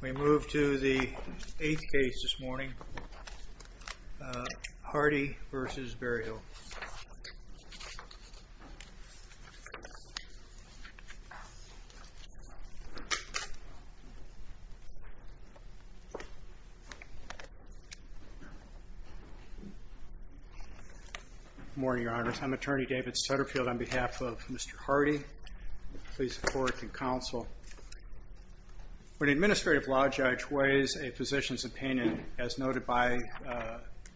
We move to the eighth case this morning, Hardy v. Berryhill. Attorney David Sutterfield Morning, Your Honors. I'm Attorney David Sutterfield on behalf of Mr. Hardy. Please support and counsel. When an administrative law judge weighs a physician's opinion, as noted by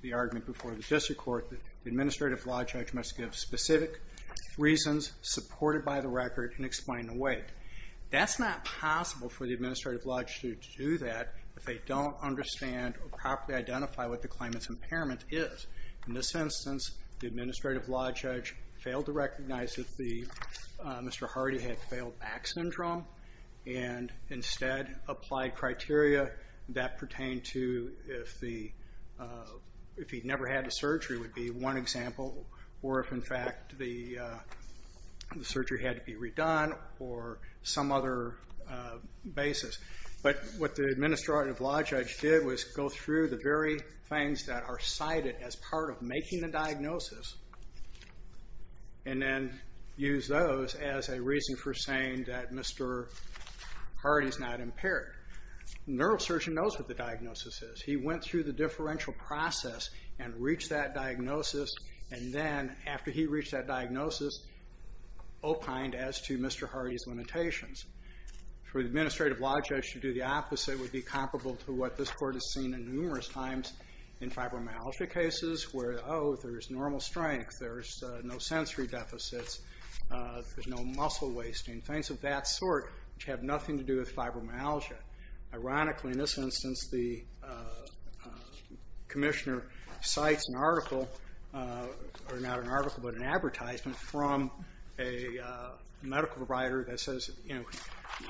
the argument before the district court, the administrative law judge must give specific reasons supported by the record and explain the weight. That's not possible for the administrative law judge to do that if they don't understand or properly identify what the claimant's impairment is. In this instance, the administrative law judge failed to recognize that Mr. Hardy had failed back syndrome and instead applied criteria that pertain to if he never had the surgery would be one example, or if in fact the surgery had to be redone or some other basis. But what the administrative law judge did was go through the very things that are cited as part of making the diagnosis and then use those as a reason for saying that Mr. Hardy's not impaired. The neurosurgeon knows what the diagnosis is. He went through the differential process and reached that diagnosis and then, after he reached that diagnosis, opined as to Mr. Hardy's limitations. For the administrative law judge to do the opposite would be comparable to what this there's no sensory deficits, there's no muscle wasting, things of that sort which have nothing to do with fibromyalgia. Ironically, in this instance, the commissioner cites an article or not an article but an advertisement from a medical provider that says, you know,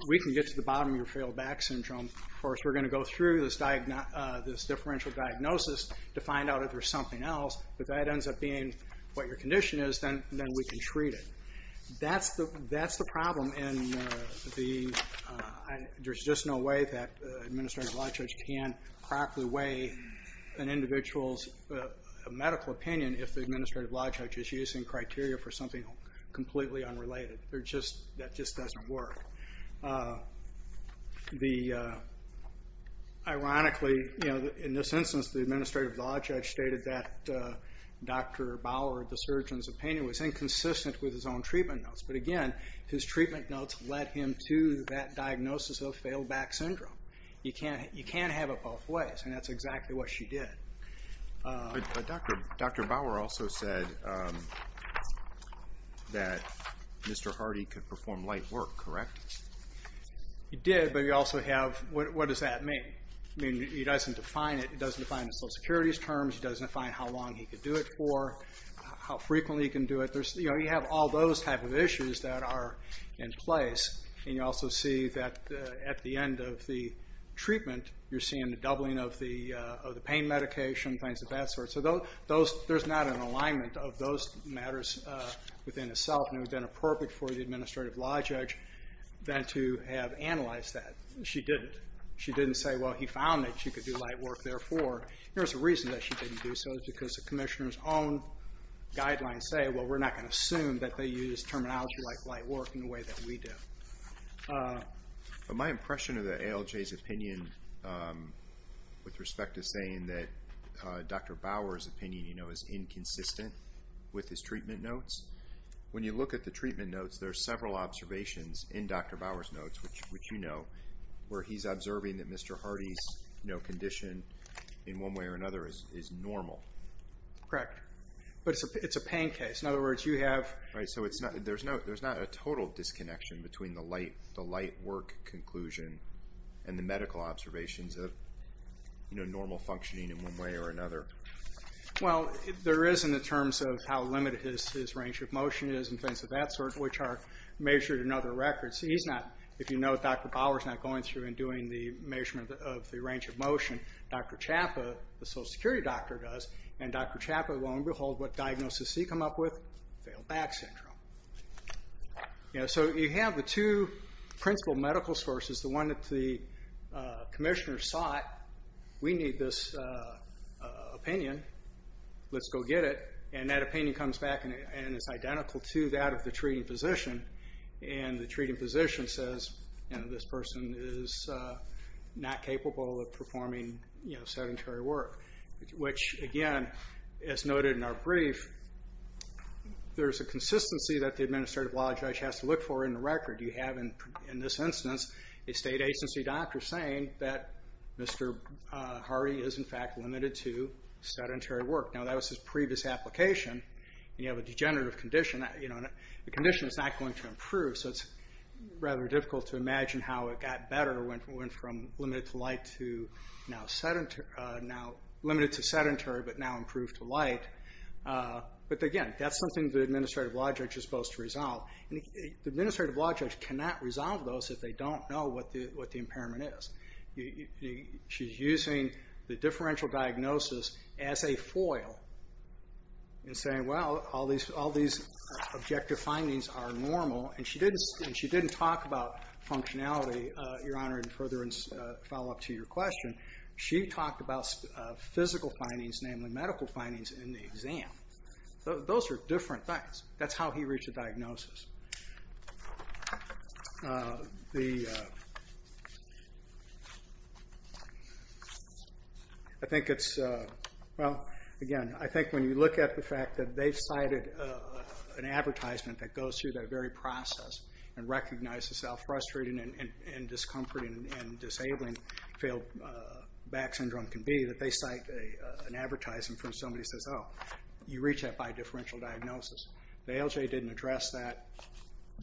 we can get to the bottom of your failed back syndrome. Of course, we're going to go through this differential diagnosis to find out if there's something else, but that ends up being what your condition is, then we can treat it. That's the problem and there's just no way that an administrative law judge can crack away an individual's medical opinion if the administrative law judge is using criteria for something completely unrelated. That just doesn't work. Ironically, you know, in this instance, the administrative law judge stated that Dr. Bauer, the surgeon's opinion, was inconsistent with his own treatment notes, but again, his treatment notes led him to that diagnosis of failed back syndrome. You can't have it both ways and that's exactly what she did. But Dr. Bauer also said that Mr. Hardy could perform light work, correct? He did, but he also have, what does that mean? I mean, he doesn't define it, he doesn't define it in Social Security's terms, he doesn't define how long he could do it for, how frequently he can do it. You know, you have all those type of issues that are in place and you also see that at the end of the treatment, you're seeing the doubling of the pain medication, things of that sort. So there's not an alignment of those matters within itself and it would have been appropriate for the administrative law judge then to have analyzed that. She didn't. She didn't say, well, he found that you could do light work, therefore. There's a reason that she didn't do so, it's because the commissioner's own guidelines say, well, we're not going to assume that they use terminology like light work in the way that we do. My impression of the ALJ's opinion with respect to saying that Dr. Bauer's opinion, you know, is inconsistent with his treatment notes, when you look at the treatment notes, there are several observations in Dr. Bauer's notes, which you know, where he's observing that Mr. Hardy's condition, in one way or another, is normal. Correct. But it's a pain case. In other words, you have... Right, so there's not a total disconnection between the light work conclusion and the medical observations of normal functioning in one way or another. Well, there is in the terms of how limited his range of motion is and things of that nature, measured in other records. He's not, if you note, Dr. Bauer's not going through and doing the measurement of the range of motion. Dr. Chapa, the social security doctor, does, and Dr. Chapa, lo and behold, what diagnosis did he come up with? Failed back syndrome. So you have the two principal medical sources, the one that the commissioner sought, we need this opinion, let's go get it, and that opinion comes back and it's identical to that of the treating physician. And the treating physician says, you know, this person is not capable of performing sedentary work. Which, again, as noted in our brief, there's a consistency that the administrative law judge has to look for in the record. You have, in this instance, a state agency doctor saying that Mr. Hardy is, in fact, limited to sedentary work. Now, that was his previous application, and you have a degenerative condition. The condition is not going to improve, so it's rather difficult to imagine how it got better when from limited to sedentary but now improved to light. But again, that's something the administrative law judge is supposed to resolve. The administrative law judge cannot resolve those if they don't know what the impairment is. She's using the differential diagnosis as a foil and saying, well, all these objective findings are normal. And she didn't talk about functionality, Your Honor, in further follow-up to your question. She talked about physical findings, namely medical findings in the exam. Those are different things. That's how he reached a diagnosis. I think it's, well, again, I think when you look at the fact that they've cited an advertisement that goes through that very process and recognizes how frustrating and discomforting and disabling failed back syndrome can be, that they cite an advertisement from somebody who says, oh, you reach that by differential diagnosis. The ALJ didn't address that.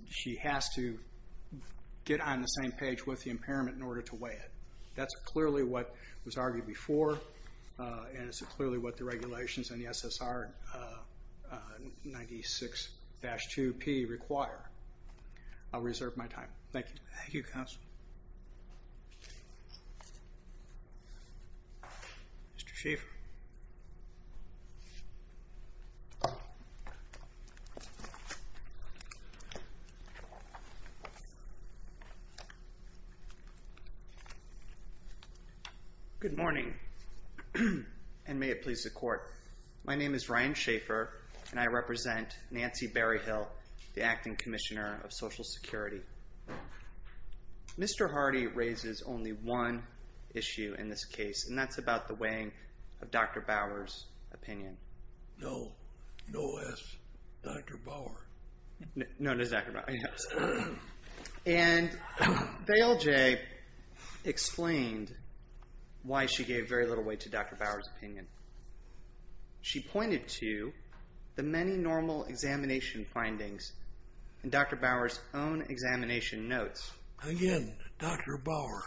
She has to get on the same page with the impairment in order to weigh it. That's clearly what was argued before, and it's clearly what the regulations in the SSR 96-2P require. I'll reserve my time. Thank you. Thank you, counsel. Mr. Schieffer. Good morning, and may it please the Court. My name is Ryan Schieffer, and I represent Nancy Berryhill, the Acting Commissioner of Social Security. Mr. Hardy raises only one issue in this case, and that's about the weighing of Dr. Bower's opinion. No. No S. Dr. Bower. No, it is Dr. Bower. Yes. And the ALJ explained why she gave very little weight to Dr. Bower's opinion. She pointed to the many normal examination findings in Dr. Bower's own examination notes. Again, Dr. Bower,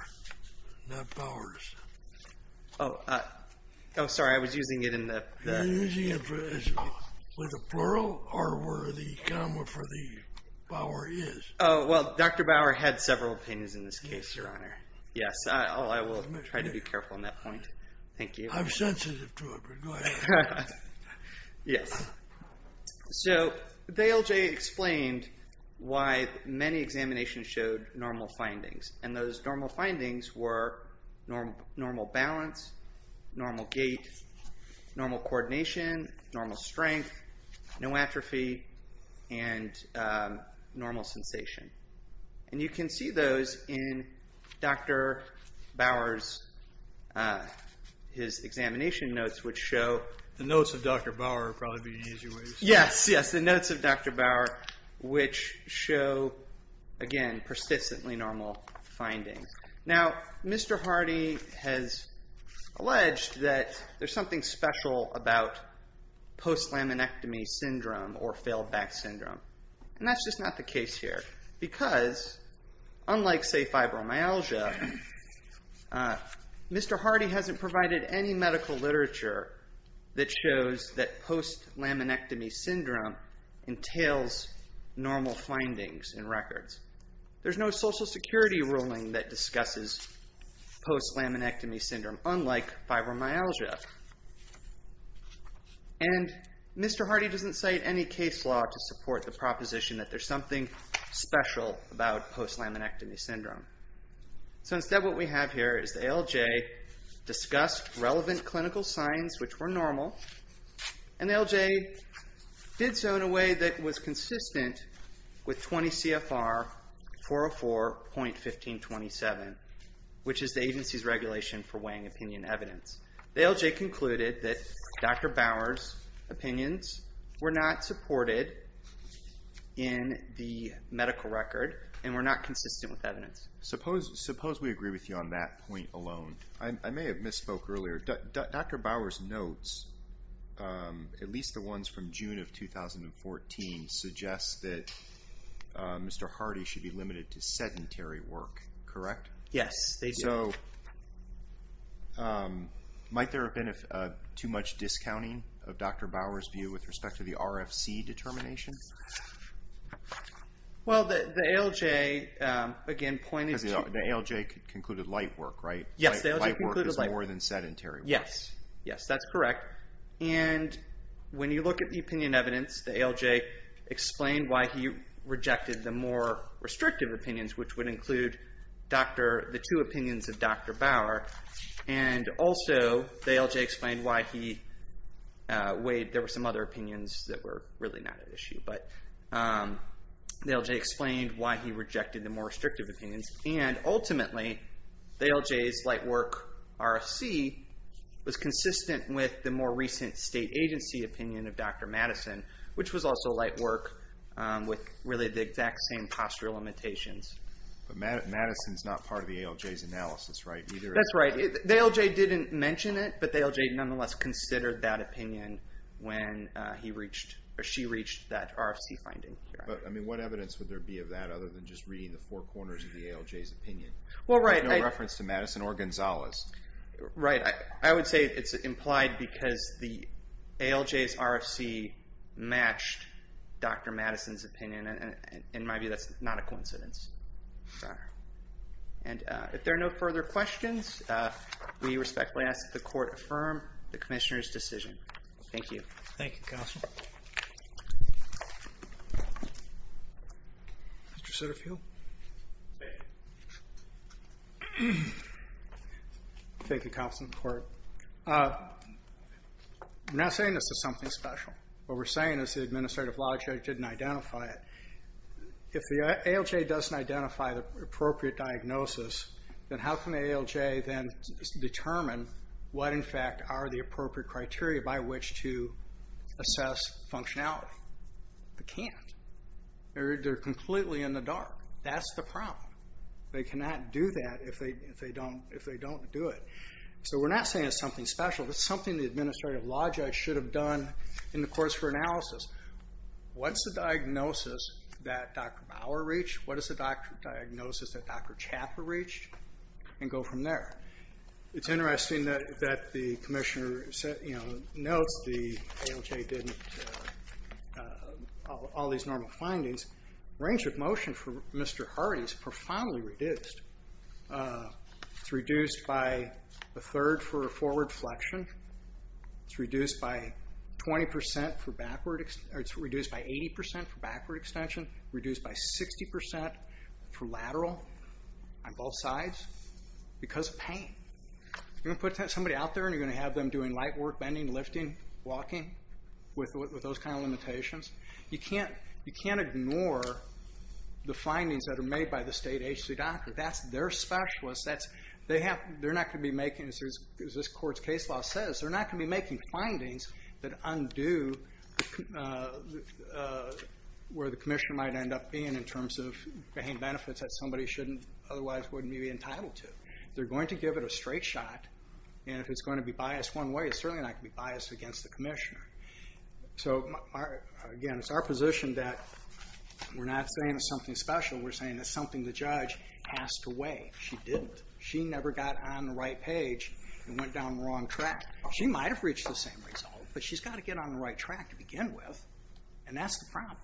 not Bower's. Oh, sorry. I was using it in the... You're using it with a plural, or where the comma for the Bower is? Oh, well, Dr. Bower had several opinions in this case, Your Honor. Yes. I will try to be careful on that point. Thank you. I'm sensitive to it, but go ahead. Yes. So the ALJ explained why Nancy Berryhill's opinion. Many examinations showed normal findings, and those normal findings were normal balance, normal gait, normal coordination, normal strength, no atrophy, and normal sensation. You can see those in Dr. Bower's examination notes, which show... The notes of Dr. Bower are probably the easier way to say it. Yes, yes. The notes of Dr. Bower, which show, again, persistently normal findings. Now, Mr. Hardy has alleged that there's something special about post-laminectomy syndrome or failed back syndrome, and that's just not the case here, because unlike, say, fibromyalgia, Mr. Hardy hasn't provided any medical literature that shows that post-laminectomy syndrome entails normal findings in records. There's no Social Security ruling that discusses post-laminectomy syndrome, unlike fibromyalgia. And Mr. Hardy doesn't cite any case law to support the proposition that there's something special about post-laminectomy syndrome. So instead, what we have here is the ALJ discussed relevant clinical signs which were normal, and the ALJ did so in a way that was consistent with 20 CFR 404.1527, which is the agency's regulation for weighing opinion evidence. The ALJ concluded that Dr. Bower's opinions were not supported in the medical record and were not consistent with clinical evidence. Dr. Hanlon. Suppose we agree with you on that point alone. I may have misspoke earlier. Dr. Bower's notes, at least the ones from June of 2014, suggest that Mr. Hardy should be limited to sedentary work, correct? Dr. Bower. Yes, they do. Dr. Hanlon. So might there have been too much discounting of Dr. Bower's view with respect to the RFC determination? Dr. Bower. Well, the ALJ again pointed to... Dr. Hanlon. The ALJ concluded light work, right? Dr. Bower. Yes, the ALJ concluded light work. Dr. Hanlon. Light work is more than sedentary work. Dr. Bower. Yes, that's correct. And when you look at the opinion evidence, the ALJ explained why he rejected the more restrictive opinions, which would include the two opinions of Dr. Bower. And also, the ALJ explained why there were some other opinions that were really not at issue. But the ALJ explained why he rejected the more restrictive opinions. And ultimately, the ALJ's light work RFC was consistent with the more recent state agency opinion of Dr. Madison, which was also light work with really the exact same posture limitations. Dr. Hanlon. But Madison's not part of the ALJ's analysis, right? Dr. Bower. That's right. The ALJ didn't mention it, but the ALJ nonetheless considered that and reached that RFC finding. Dr. Hanlon. But, I mean, what evidence would there be of that other than just reading the four corners of the ALJ's opinion? Dr. Bower. Well, right. Dr. Hanlon. With no reference to Madison or Gonzalez. Dr. Bower. Right. I would say it's implied because the ALJ's RFC matched Dr. Madison's opinion, and in my view, that's not a coincidence. Sorry. And if there are no further questions, we respectfully ask that the Court affirm the Commissioner's decision. Thank you. Thank you, Counsel. Mr. Sutterfield. Thank you, Counsel and the Court. I'm not saying this is something special. What we're saying is the administrative law judge didn't identify it. If the ALJ doesn't identify the appropriate diagnosis, then how can the ALJ then determine what, in fact, are the appropriate criteria by which to assess functionality? They can't. They're completely in the dark. That's the problem. They cannot do that if they don't do it. So we're not saying it's something special. It's something the administrative law judge should have done in the course for analysis. What's the diagnosis that Dr. Bower reached? What is the diagnosis that Dr. Chaffer reached? And go from there. It's interesting that the Commissioner notes the ALJ didn't have all these normal findings. Range of motion for Mr. Hardy is profoundly reduced. It's reduced by a third for a forward flexion. It's reduced by 80% for backward extension, reduced by 60% for lateral on both sides. Because of pain. You're going to put somebody out there and you're going to have them doing light work, bending, lifting, walking, with those kind of limitations? You can't ignore the findings that are made by the state HC doctor. That's their specialist. They're not going to be making, as this court's case law says, they're not going to be making findings that undo where the Commissioner might end up being in terms of pain benefits that somebody otherwise wouldn't be entitled to. They're going to give it a straight shot, and if it's going to be biased one way, it's certainly not going to be biased against the Commissioner. So again, it's our position that we're not saying it's something special. We're saying it's something the judge has to weigh. She didn't. She never got on the right page and went down the wrong track. She might have reached the same result, but she's got to get on the right track to begin with, and that's the problem.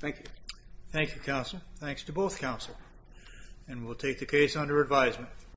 Thank you. Thank you, Counselor. Thanks to both Counselors. And we'll take the case under advisement.